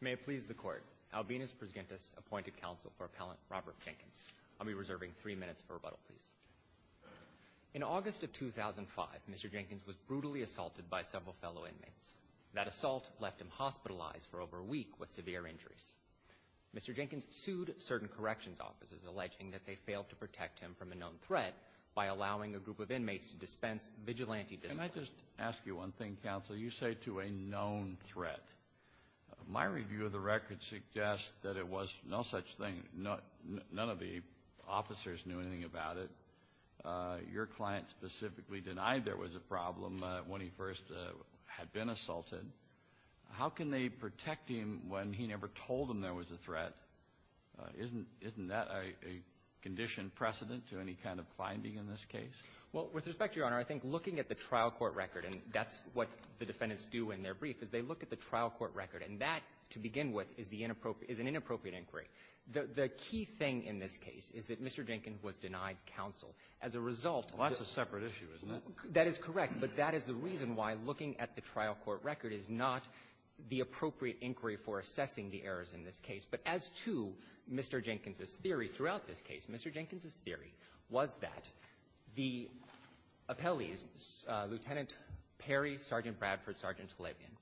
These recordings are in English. May it please the court. Albinus Prusgentis appointed counsel for appellant Robert Jenkins. I'll be reserving three minutes for rebuttal, please. In August of 2005, Mr. Jenkins was brutally assaulted by several fellow inmates. That assault left him hospitalized for over a week with severe injuries. Mr. Jenkins sued certain corrections officers alleging that they failed to protect him from a known threat by allowing a group of inmates to dispense vigilante discipline. Can I just ask you one My review of the record suggests that it was no such thing. None of the officers knew anything about it. Your client specifically denied there was a problem when he first had been assaulted. How can they protect him when he never told him there was a threat? Isn't that a conditioned precedent to any kind of finding in this case? Well, with respect to your honor, I think looking at the trial court record, and that's what the defendants do in their brief, is they look at the trial court record. And that, to begin with, is the inappropriate — is an inappropriate inquiry. The key thing in this case is that Mr. Jenkins was denied counsel. As a result Well, that's a separate issue, isn't it? That is correct. But that is the reason why looking at the trial court record is not the appropriate inquiry for assessing the errors in this case. But as to Mr. Jenkins' theory throughout this case, Mr. Jenkins' theory was that the appellees, Lieutenant Perry, Sergeant Bradford, Sergeant Talabian,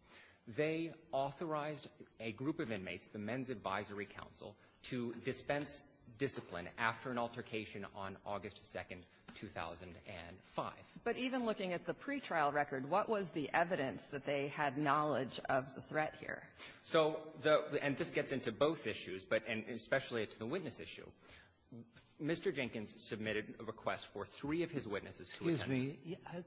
they authorized a group of inmates, the Men's Advisory Council, to dispense discipline after an altercation on August 2nd, 2005. But even looking at the pretrial record, what was the evidence that they had knowledge of the threat here? So the — and this gets into both issues, but especially to the witness issue. Mr. Jenkins submitted a request for three of his witnesses to attend. Sotomayor,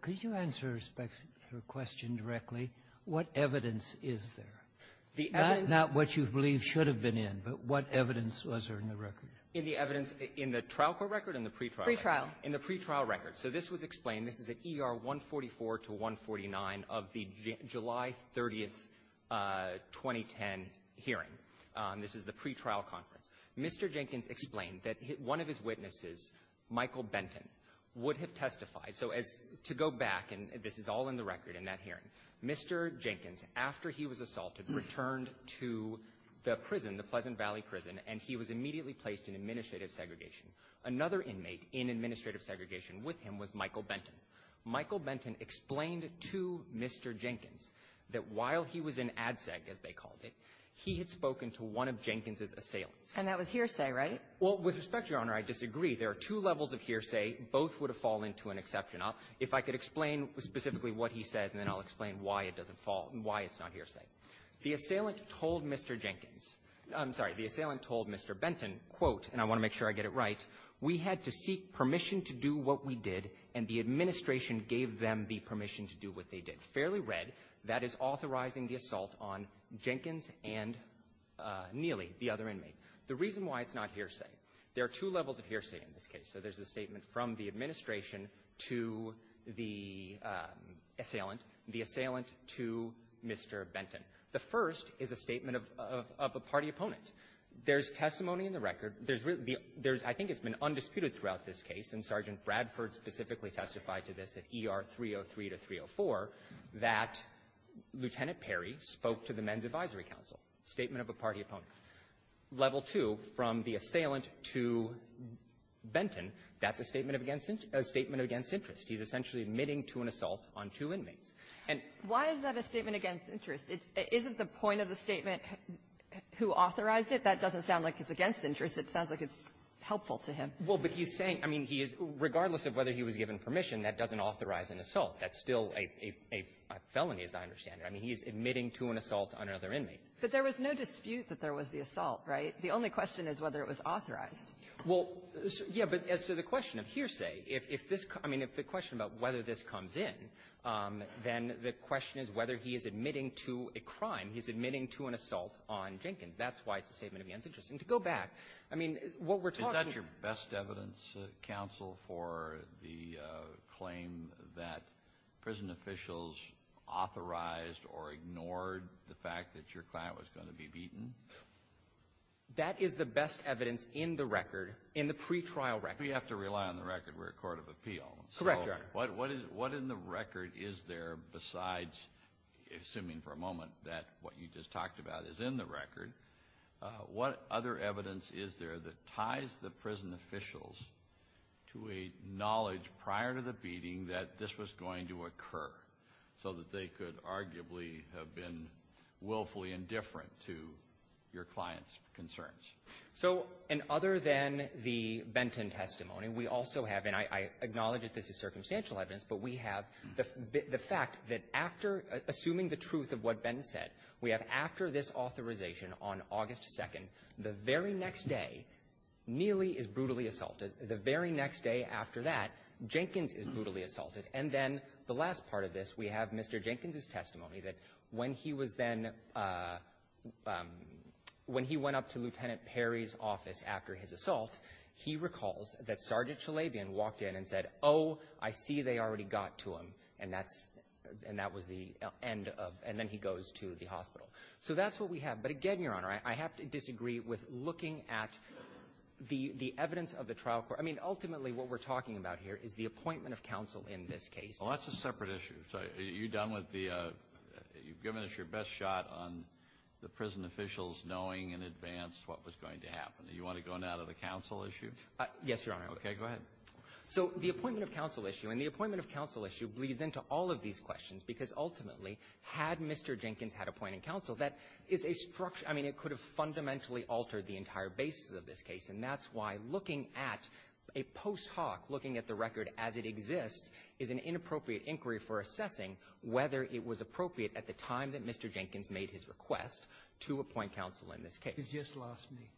could you answer her question directly? What evidence is there? Not what you believe should have been in, but what evidence was there in the record? In the evidence in the trial court record and the pretrial record? Pretrial. In the pretrial record. So this was explained. This is at ER 144 to 149 of the July 30th, 2010, hearing. This is the pretrial conference. Mr. Jenkins explained that one of his witnesses, Michael Benton, would have testified So as — to go back, and this is all in the record in that hearing, Mr. Jenkins, after he was assaulted, returned to the prison, the Pleasant Valley Prison, and he was immediately placed in administrative segregation. Another inmate in administrative segregation with him was Michael Benton. Michael Benton explained to Mr. Jenkins that while he was in ADSEG, as they called it, he had spoken to one of Jenkins' assailants. And that was hearsay, right? Well, with respect, Your Honor, I disagree. There are two levels of hearsay. Both would have fallen to an exception. If I could explain specifically what he said, and then I'll explain why it doesn't fall, and why it's not hearsay. The assailant told Mr. Jenkins — I'm sorry. The assailant told Mr. Benton, quote, and I want to make sure I get it right, We had to seek permission to do what we did, and the administration gave them the permission to do what they did. Fairly read. That is authorizing the assault on Jenkins and Neely, the other inmate. The reason why it's not hearsay, there are two levels of hearsay in this case. So there's a statement from the administration to the assailant, the assailant to Mr. Benton. The first is a statement of a party opponent. There's testimony in the record. There's really — I think it's been undisputed throughout this case, and Sergeant Bradford specifically testified to this at ER 303 to 304, that Lieutenant Perry spoke to the Men's Advisory Council. Statement of a party opponent. Level two, from the assailant to Benton, that's a statement of against — a statement of against interest. He's essentially admitting to an assault on two inmates. And — Why is that a statement against interest? Isn't the point of the statement who authorized it? That doesn't sound like it's against interest. It sounds like it's helpful to him. Well, but he's saying — I mean, he is — regardless of whether he was given permission, that doesn't authorize an assault. That's still a — a felony, as I understand it. I mean, he's admitting to an assault on another inmate. But there was no dispute that there was the assault, right? The only question is whether it was authorized. Well, yeah, but as to the question of hearsay, if this — I mean, if the question about whether this comes in, then the question is whether he is admitting to a crime. He's admitting to an assault on Jenkins. That's why it's a statement against interest. And to go back, I mean, what we're talking — Is that your best evidence, counsel, for the claim that prison officials authorized or ignored the fact that your client was going to be beaten? That is the best evidence in the record, in the pretrial record. We have to rely on the record. We're a court of appeal. Correct, Your Honor. So what in the record is there besides — assuming for a moment that what you just talked about is in the record — what other evidence is there that ties the prison officials to a have been willfully indifferent to your client's concerns? So — and other than the Benton testimony, we also have — and I acknowledge that this is circumstantial evidence, but we have the fact that after — assuming the truth of what Benton said, we have after this authorization on August 2nd, the very next day, Neely is brutally assaulted. The very next day after that, Jenkins is brutally assaulted. And then the last part of this, we have Mr. Jenkins's testimony that when he was then — when he went up to Lieutenant Perry's office after his assault, he recalls that Sergeant Chalabian walked in and said, oh, I see they already got to him. And that's — and that was the end of — and then he goes to the hospital. So that's what we have. But again, Your Honor, I have to disagree with looking at the evidence of the trial court — I mean, ultimately what we're talking about here is the appointment of counsel in this case. Well, that's a separate issue. So are you done with the — you've given us your best shot on the prison officials knowing in advance what was going to happen. Do you want to go now to the counsel issue? Yes, Your Honor. Okay, go ahead. So the appointment of counsel issue — and the appointment of counsel issue bleeds into all of these questions, because ultimately, had Mr. Jenkins had appointed counsel, that is a — I mean, it could have fundamentally altered the entire basis of this case. And that's why looking at a post hoc, looking at the record as it exists, is an inappropriate inquiry for assessing whether it was appropriate at the time that Mr. Jenkins made his request to appoint counsel in this case. You've just lost me.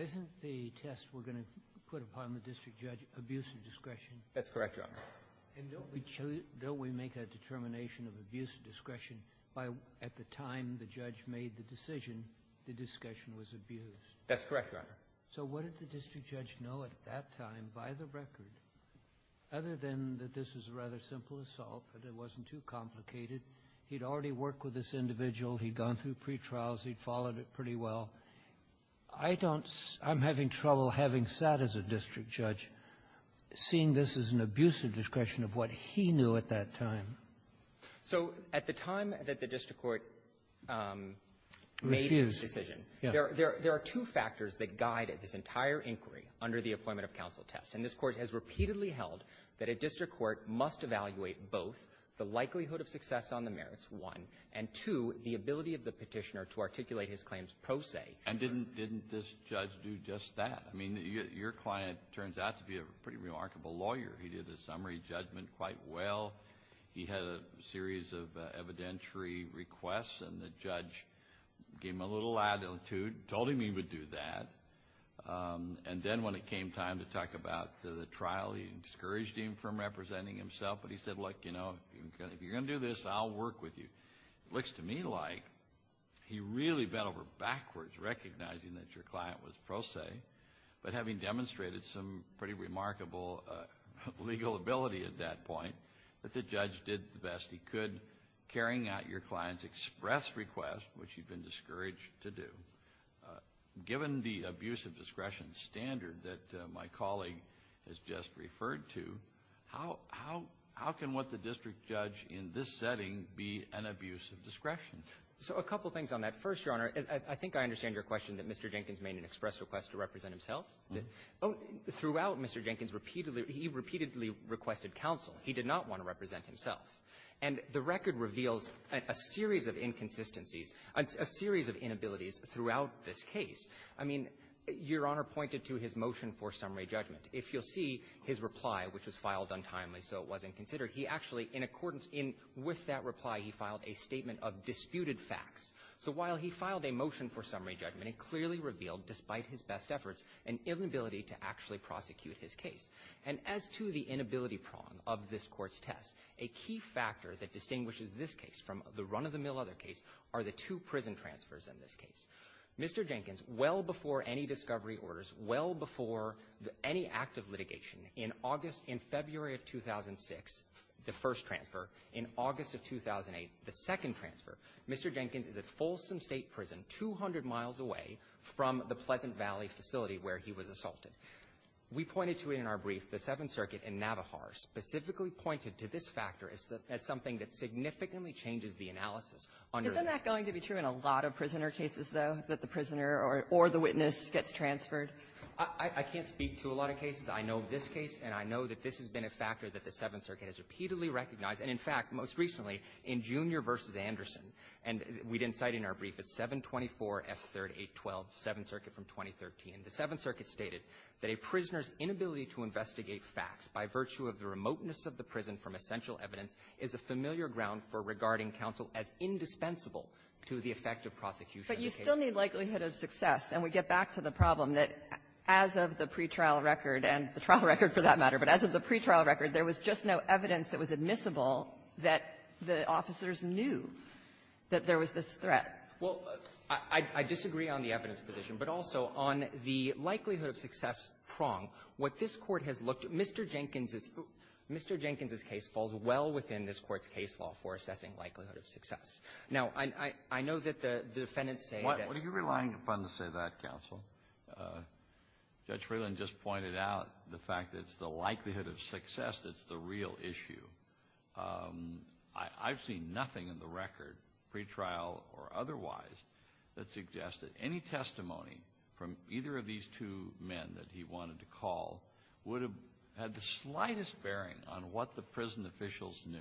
Isn't the test we're going to put upon the district judge abuse of discretion? That's correct, Your Honor. And don't we make a determination of abuse of discretion by — at the time the judge made the decision, the discretion was abused? That's correct, Your Honor. So what did the district judge know at that time, by the record, other than that this was a rather simple assault, that it wasn't too complicated? He'd already worked with this individual. He'd gone through pre-trials. He'd followed it pretty well. I don't — I'm having trouble having sat as a district judge, seeing this as an abuse of discretion of what he knew at that time. So at the time that the district court made this decision, there are two factors that guide this entire inquiry under the Appointment of Counsel test. And this Court has repeatedly held that a district court must evaluate both the likelihood of success on the merits, one, and two, the ability of the petitioner to articulate his claims pro se. And didn't this judge do just that? I mean, your client turns out to be a pretty remarkable lawyer. He did the summary judgment quite well. He had a series of evidentiary requests, and the judge gave him a little latitude, told him he would do that. And then when it came time to talk about the trial, he discouraged him from representing himself. But he said, look, you know, if you're going to do this, I'll work with you. It looks to me like he really bent over backwards recognizing that your client was pro se, but having demonstrated some pretty remarkable legal ability at that point, that the judge did the best he could, carrying out your client's express request, which he'd been discouraged to do. Given the abuse of discretion standard that my colleague has just referred to, how can what the district judge in this setting be an abuse of discretion? So a couple things on that. First, Your Honor, I think I understand your question that Mr. Jenkins made an express request to represent himself. Throughout, Mr. Jenkins repeatedly he repeatedly requested counsel. He did not want to represent himself. And the record reveals a series of inconsistencies, a series of inabilities throughout this case. I mean, Your Honor pointed to his motion for summary judgment. If you'll see his reply, which was filed untimely so it wasn't considered, he actually, in accordance with that reply, he filed a statement of disputed facts. So while he filed a motion for summary judgment, it clearly revealed, despite his best efforts, an inability to actually prosecute his case. And as to the inability prong of this Court's test, a key factor that distinguishes this case from the run-of-the-mill other case are the two prison transfers in this case. Mr. Jenkins, well before any discovery orders, well before any act of litigation, in August in February of 2006, the first transfer, in August of 2008, the second transfer, Mr. Jenkins is at Folsom State Prison, 200 miles away from the Pleasant Valley facility where he was assaulted. We pointed to it in our brief. The Seventh Circuit in Navajar specifically pointed to this factor as something that significantly changes the analysis under the — Isn't that going to be true in a lot of prisoner cases, though, that the prisoner or the witness gets transferred? I can't speak to a lot of cases. I know this case, and I know that this has been a factor that the Seventh Circuit has repeatedly recognized. And in fact, most recently, in Junior v. Anderson, and we didn't cite it in our brief, it's 724F3-812, Seventh Circuit from 2013. The Seventh Circuit stated that a prisoner's inability to investigate facts by virtue of the remoteness of the prison from essential evidence is a familiar ground for regarding counsel as indispensable to the effect of prosecution in the case. But you still need likelihood of success. And we get back to the problem that as of the pretrial record, and the trial record for that matter, but as of the pretrial record, there was just no evidence that was admissible that the officers knew that there was this threat. Well, I disagree on the evidence position, but also on the likelihood of success prong. What this Court has looked at, Mr. Jenkins's case falls well within this Court's case law for assessing likelihood of success. Now, I know that the defendants say that the prisoner's inability to investigate ground for regarding counsel as indispensable to the effect of prosecution in the case of the Seventh Circuit. Kennedy. What are you relying upon to say that, counsel? Judge Freeland just pointed out the fact that it's the likelihood of success that's the real issue. I've seen nothing in the record, pretrial or otherwise, that suggests that any testimony from either of these two men that he wanted to call would have had the slightest bearing on what the prison officials knew.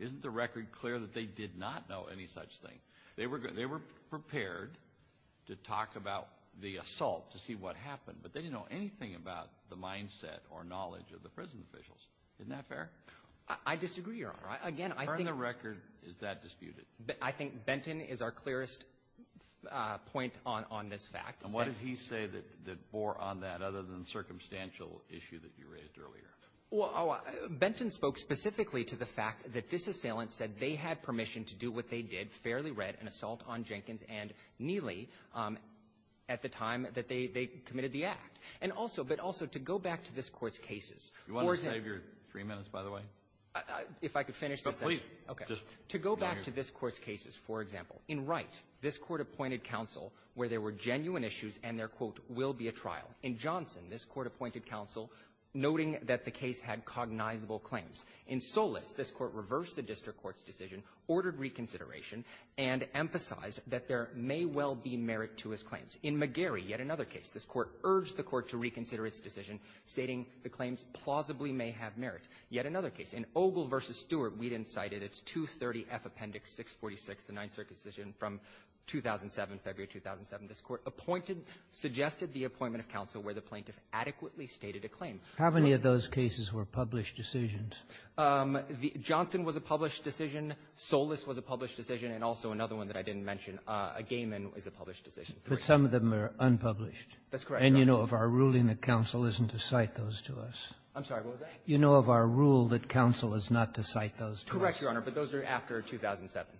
Isn't the record clear that they did not know any such thing? They were prepared to talk about the assault to see what happened, but they didn't know anything about the mindset or knowledge of the prison officials. Isn't that fair? I disagree, Your Honor. Again, I think the record is that disputed. I think Benton is our clearest point on this fact. And what did he say that bore on that other than the circumstantial issue that you raised earlier? Well, Benton spoke specifically to the fact that this assailant said they had permission to do what they did, fairly read an assault on Jenkins and Neely at the time that they committed the act. And also, but also to go back to this Court's cases. Or to go back to this Court's cases, for example, in Wright, this Court appointed counsel where there were genuine issues and their, quote, will be a trial. In Johnson, this Court appointed counsel noting that the case had cognizable claims. In Solis, this Court reversed the district court's decision, ordered reconsideration, and emphasized that there may well be merit to his claims. In McGarry, yet another case, this Court urged the court to reconsider its decision, stating the claims plausibly may have merit. Yet another case. In Ogle v. Stewart, we didn't cite it. It's 230F Appendix 646, the Ninth Circuit decision from 2007, February 2007. This Court appointed, suggested the appointment of counsel where the plaintiff adequately stated a claim. How many of those cases were published decisions? Johnson was a published decision. Solis was a published decision. And also another one that I didn't mention, a gay man is a published decision. But some of them are unpublished. That's correct, Your Honor. And you know of our ruling that counsel isn't to cite those to us. I'm sorry, what was that? You know of our rule that counsel is not to cite those to us. Correct, Your Honor, but those are after 2007.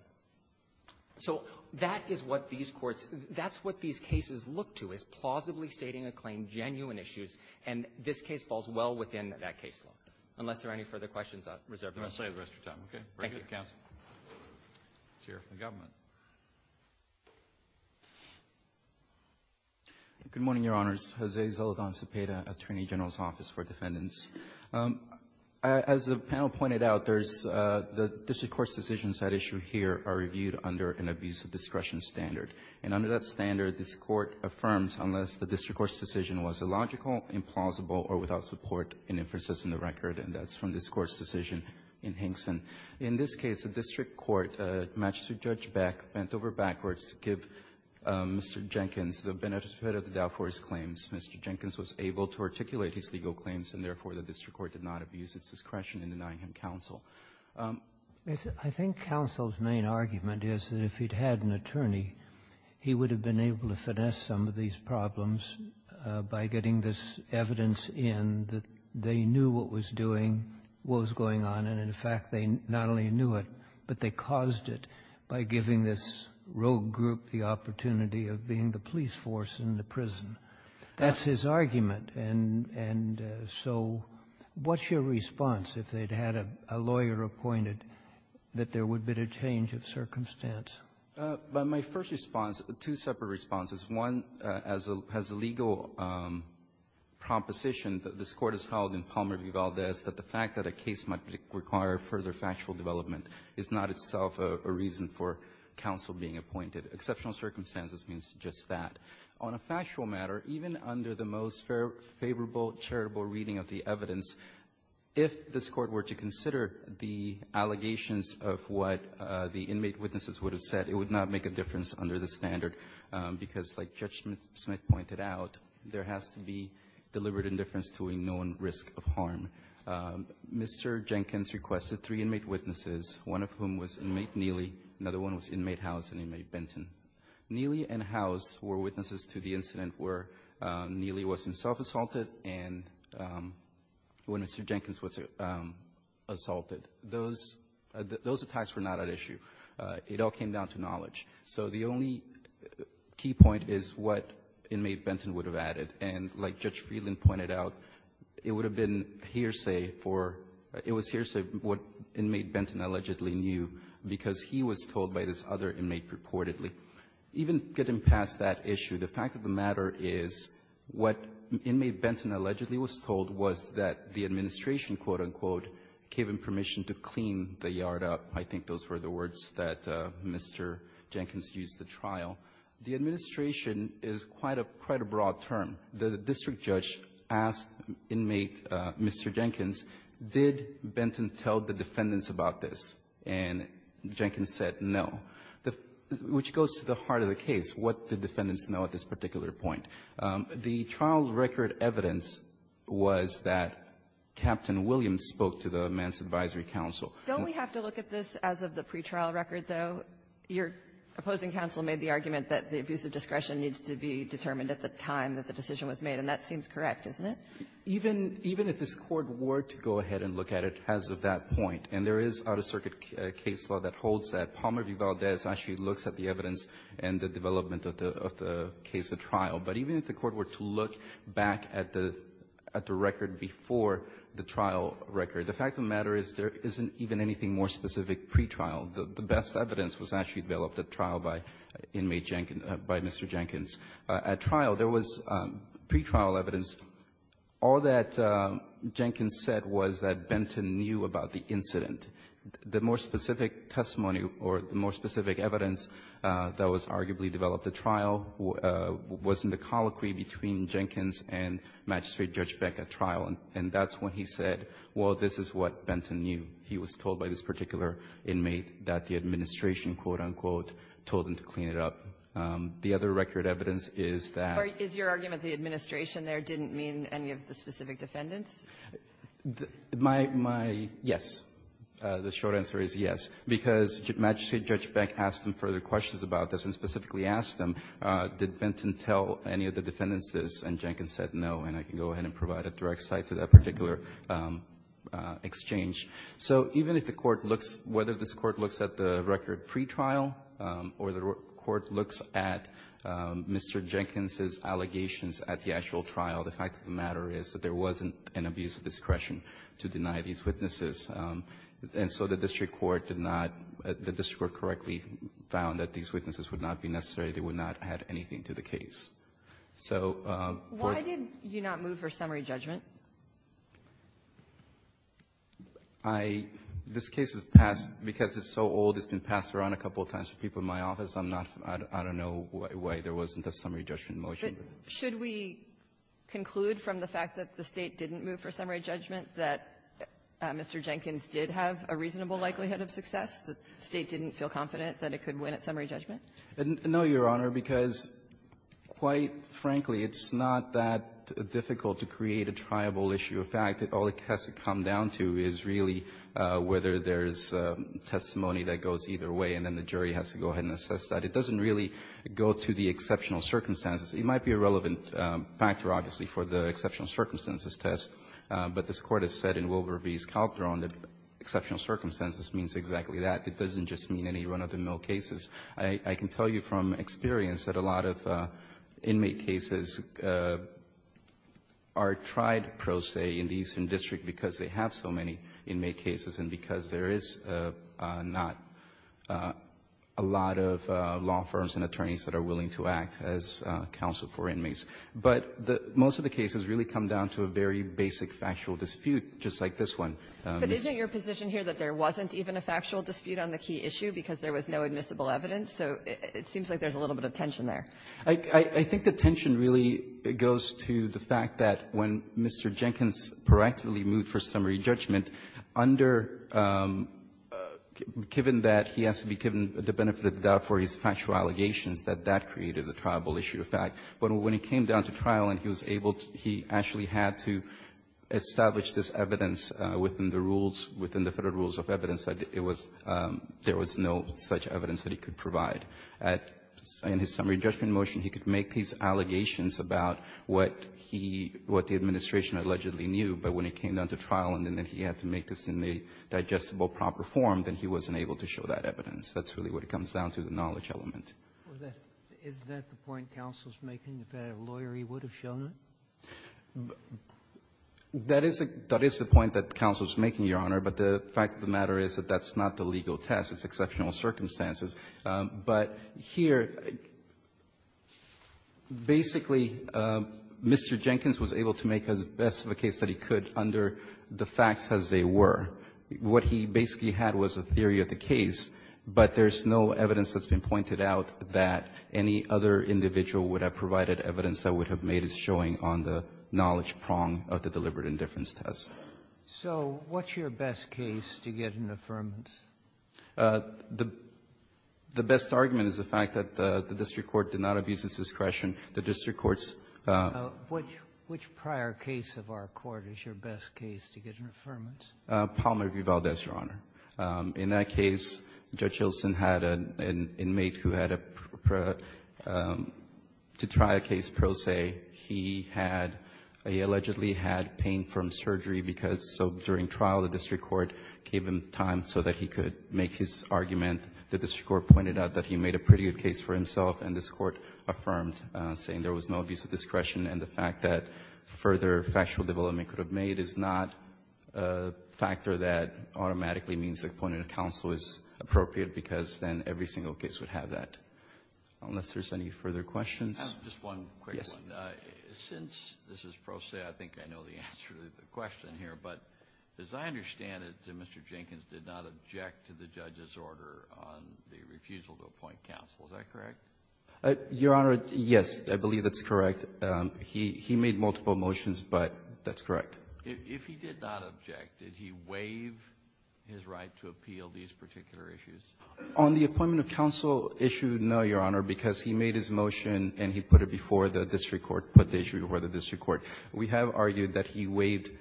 So that is what these courts – that's what these cases look to, is plausibly stating a claim, genuine issues, and this case falls well within that caseload. Unless there are any further questions, I'll reserve the rest of your time. Thank you. Thank you, counsel. Let's hear from the government. Good morning, Your Honors. Jose Zoledan Cepeda, Attorney General's Office for Defendants. As the panel pointed out, there's – the district court's decisions at issue here are reviewed under an abuse of discretion standard. And under that standard, this Court affirms unless the district court's decision was illogical, implausible, or without support and inferences in the record, and that's from this court, the magistrate judge Beck bent over backwards to give Mr. Jenkins the benefit of the doubt for his claims. Mr. Jenkins was able to articulate his legal claims, and therefore, the district court did not abuse its discretion in denying him counsel. I think counsel's main argument is that if he'd had an attorney, he would have been able to finesse some of these problems by getting this evidence in that they knew what was doing, what was going on, and in fact, they not only knew it, but they caused it by giving this rogue group the opportunity of being the police force in the prison. That's his argument. And so what's your response if they'd had a lawyer appointed, that there would be a change of circumstance? My first response, two separate responses. One has a legal proposition that this case might require further factual development is not itself a reason for counsel being appointed. Exceptional circumstances means just that. On a factual matter, even under the most favorable, charitable reading of the evidence, if this Court were to consider the allegations of what the inmate witnesses would have said, it would not make a difference under the standard, because like Judge Smith pointed out, there is a legal term. Mr. Jenkins requested three inmate witnesses, one of whom was inmate Neely, another one was inmate Howes and inmate Benton. Neely and Howes were witnesses to the incident where Neely was self-assaulted and when Mr. Jenkins was assaulted. Those attacks were not at issue. It all came down to knowledge. So the only key point is what inmate Benton would have added. And like Judge Smith pointed out, it was a hearsay for what inmate Benton allegedly knew, because he was told by this other inmate purportedly. Even getting past that issue, the fact of the matter is what inmate Benton allegedly was told was that the administration, quote, unquote, gave him permission to clean the yard up. I think those were the words that Mr. Jenkins used at the trial. The administration is quite a broad term. The district judge asked inmate Mr. Jenkins, did Benton tell the defendants about this? And Jenkins said no, which goes to the heart of the case. What did the defendants know at this particular point? The trial record evidence was that Captain Williams spoke to the Mance Advisory Council. Don't we have to look at this as of the pretrial record, though? Your opposing counsel made the argument that the abuse of discretion needs to be determined at the time that the decision was made, and that seems correct, isn't it? Even if this Court were to go ahead and look at it as of that point, and there is out-of-circuit case law that holds that, Palmer v. Valdez actually looks at the evidence and the development of the case at trial. But even if the Court were to look back at the record before the trial record, the fact of the matter is there isn't even anything more specific to the pretrial. The best evidence was actually developed at trial by inmate Jenkins, by Mr. Jenkins. At trial, there was pretrial evidence. All that Jenkins said was that Benton knew about the incident. The more specific testimony or the more specific evidence that was arguably developed at trial was in the colloquy between Jenkins and Magistrate Judge Beck at trial, and that's when he said, well, this is what Benton knew. He was told by this particular inmate that the administration, quote-unquote, told him to clean it up. The other record evidence is that the other record evidence is that Or is your argument the administration there didn't mean any of the specific defendants? My yes. The short answer is yes. Because Magistrate Judge Beck asked him further questions about this, and specifically asked him, did Benton tell any of the defendants this? And Jenkins said no, and I can go ahead and provide a direct cite to that particular exchange. So even if the Court looks, whether this Court looks at the record pretrial or the Court looks at Mr. Jenkins' allegations at the actual trial, the fact of the matter is that there wasn't an abuse of discretion to deny these witnesses. And so the district court did not the district court correctly found that these witnesses would not be necessary. They would not add anything to the case. So why did you not move for summary judgment? I -- this case has passed because it's so old, it's been passed around a couple of times for people in my office. I'm not -- I don't know why there wasn't a summary judgment motion. But should we conclude from the fact that the State didn't move for summary judgment that Mr. Jenkins did have a reasonable likelihood of success? The State didn't feel confident that it could win at summary judgment? No, Your Honor, because quite frankly, it's not that difficult to create a trial that's reliable. The issue of fact, all it has to come down to is really whether there's testimony that goes either way, and then the jury has to go ahead and assess that. It doesn't really go to the exceptional circumstances. It might be a relevant factor, obviously, for the exceptional circumstances test, but this Court has said in Wilbur v. Calderon that exceptional circumstances means exactly that. It doesn't just mean any run-of-the-mill cases. I can tell you from experience that a lot of inmate cases are tried, pro se, in these in district because they have so many inmate cases and because there is not a lot of law firms and attorneys that are willing to act as counsel for inmates. But most of the cases really come down to a very basic factual dispute, just like this one. But isn't your position here that there wasn't even a factual dispute on the key issue because there was no admissible evidence? So it seems like there's a little bit of tension there. I think the tension really goes to the fact that when Mr. Jenkins proactively moved for summary judgment under the fact that he has to be given the benefit of the doubt for his factual allegations, that that created a triable issue of fact. But when it came down to trial and he was able to he actually had to establish this evidence within the rules, within the federal rules of evidence, that it was there was no such evidence that he could provide. In his summary judgment motion, he could make these allegations about what he, what the administration allegedly knew. But when it came down to trial and then he had to make this in a digestible proper form, then he wasn't able to show that evidence. That's really what it comes down to, the knowledge element. Is that the point counsel is making, that a lawyer, he would have shown it? That is the point that counsel is making, Your Honor. But the fact of the matter is that that's not the legal test. It's exceptional circumstances. But here, basically, Mr. Jenkins was able to make as best of a case that he could under the facts as they were. What he basically had was a theory of the case, but there's no evidence that's been pointed out that any other individual would have provided evidence that would have made as showing on the knowledge prong of the deliberate indifference test. So what's your best case to get an affirmance? The best argument is the fact that the district court did not abuse its discretion. The district court's ---- Which prior case of our court is your best case to get an affirmance? Palmer v. Valdez, Your Honor. In that case, Judge Hilsen had an inmate who had a ---- to try a case pro se, he had ---- he allegedly had pain from surgery because, so during trial, the district court gave him time so that he could make his argument. The district court pointed out that he made a pretty good case for himself, and this court affirmed, saying there was no abuse of discretion, and the fact that further factual development could have made is not a factor that automatically means appointed counsel is appropriate because then every single case would have that, unless there's any further questions. I have just one quick one. Yes. Since this is pro se, I think I know the answer to the question here, but as I understand it, Mr. Jenkins did not object to the judge's order on the refusal to appoint counsel. Is that correct? Your Honor, yes, I believe that's correct. He made multiple motions, but that's correct. If he did not object, did he waive his right to appeal these particular issues? On the appointment of counsel issue, no, Your Honor, because he made his motion and he put it before the district court, put the issue before the district court. We have argued that he waived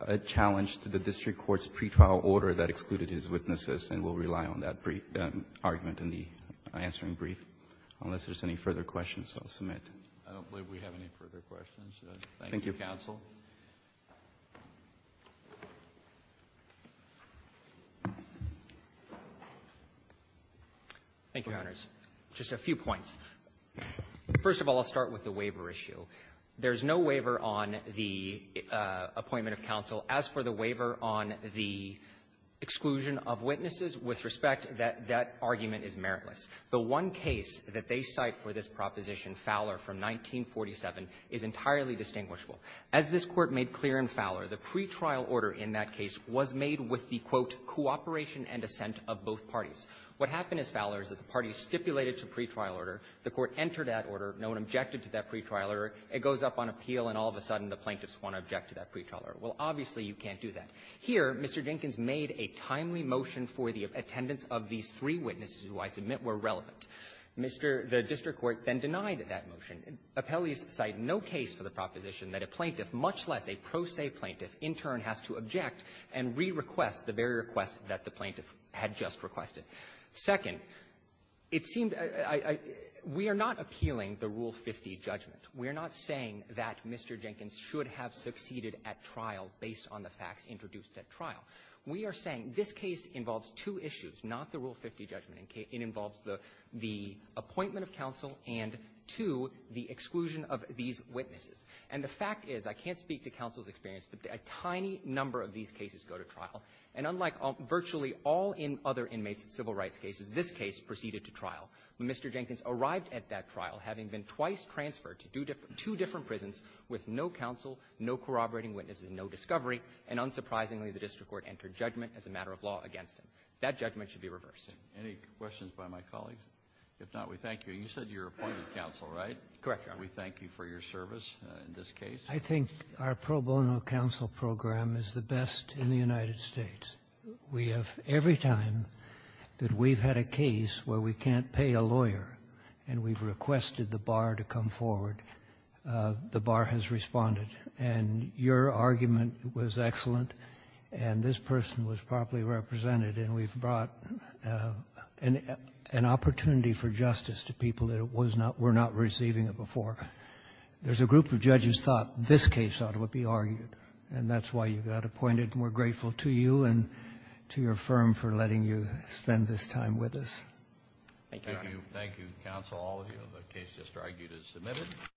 a challenge to the district court's pretrial order that excluded his witnesses, and we'll rely on that argument in the answering brief. Unless there's any further questions, I'll submit. I don't believe we have any further questions. Thank you, counsel. Thank you, Your Honors. Just a few points. First of all, I'll start with the waiver issue. There's no waiver on the appointment of counsel. As for the waiver on the exclusion of witnesses, with respect, that argument is meritless. The one case that they cite for this proposition, Fowler from 1947, is entirely distinguishable. As this Court made clear in Fowler, the pretrial order in that case was made with the, quote, cooperation and assent of both parties. What happened is, Fowler, is that the parties stipulated a pretrial order, the court entered that order, no one objected to that pretrial order, it goes up on appeal, and all of a sudden the plaintiffs want to object to that pretrial order. Well, obviously, you can't do that. Here, Mr. Jenkins made a timely motion for the attendance of these three witnesses who I submit were relevant. The district court then denied that motion. Appellee's cite no case for the proposition that a plaintiff, much less a pro se plaintiff, in turn has to object and re-request the very request that the plaintiff had just requested. Second, it seemed we are not appealing the Rule 50 judgment. We are not saying that Mr. Jenkins should have succeeded at trial based on the facts introduced at trial. We are saying this case involves two issues, not the Rule 50 judgment. It involves the appointment of counsel and, two, the exclusion of these witnesses. And the fact is, I can't speak to counsel's experience, but a tiny number of these cases go to trial. And unlike virtually all other inmates in civil rights cases, this case proceeded to trial. When Mr. Jenkins arrived at that trial, having been twice transferred to two different prisons with no counsel, no corroborating witnesses, and no discovery, and unsurprisingly, the district court entered judgment as a matter of law against him. That judgment should be reversed. Any questions by my colleague? If not, we thank you. You said you were appointing counsel, right? Correct, Your Honor. We thank you for your service in this case. I think our pro bono counsel program is the best in the United States. We have, every time that we've had a case where we can't pay a lawyer and we've requested the bar to come forward, the bar has responded. And your argument was excellent, and this person was properly represented, and we've brought an opportunity for justice to people that were not receiving it before. There's a group of judges thought this case ought to be argued, and that's why you got appointed, and we're grateful to you and to your firm for letting you spend this time with us. Thank you, Your Honor. The case is argued as submitted.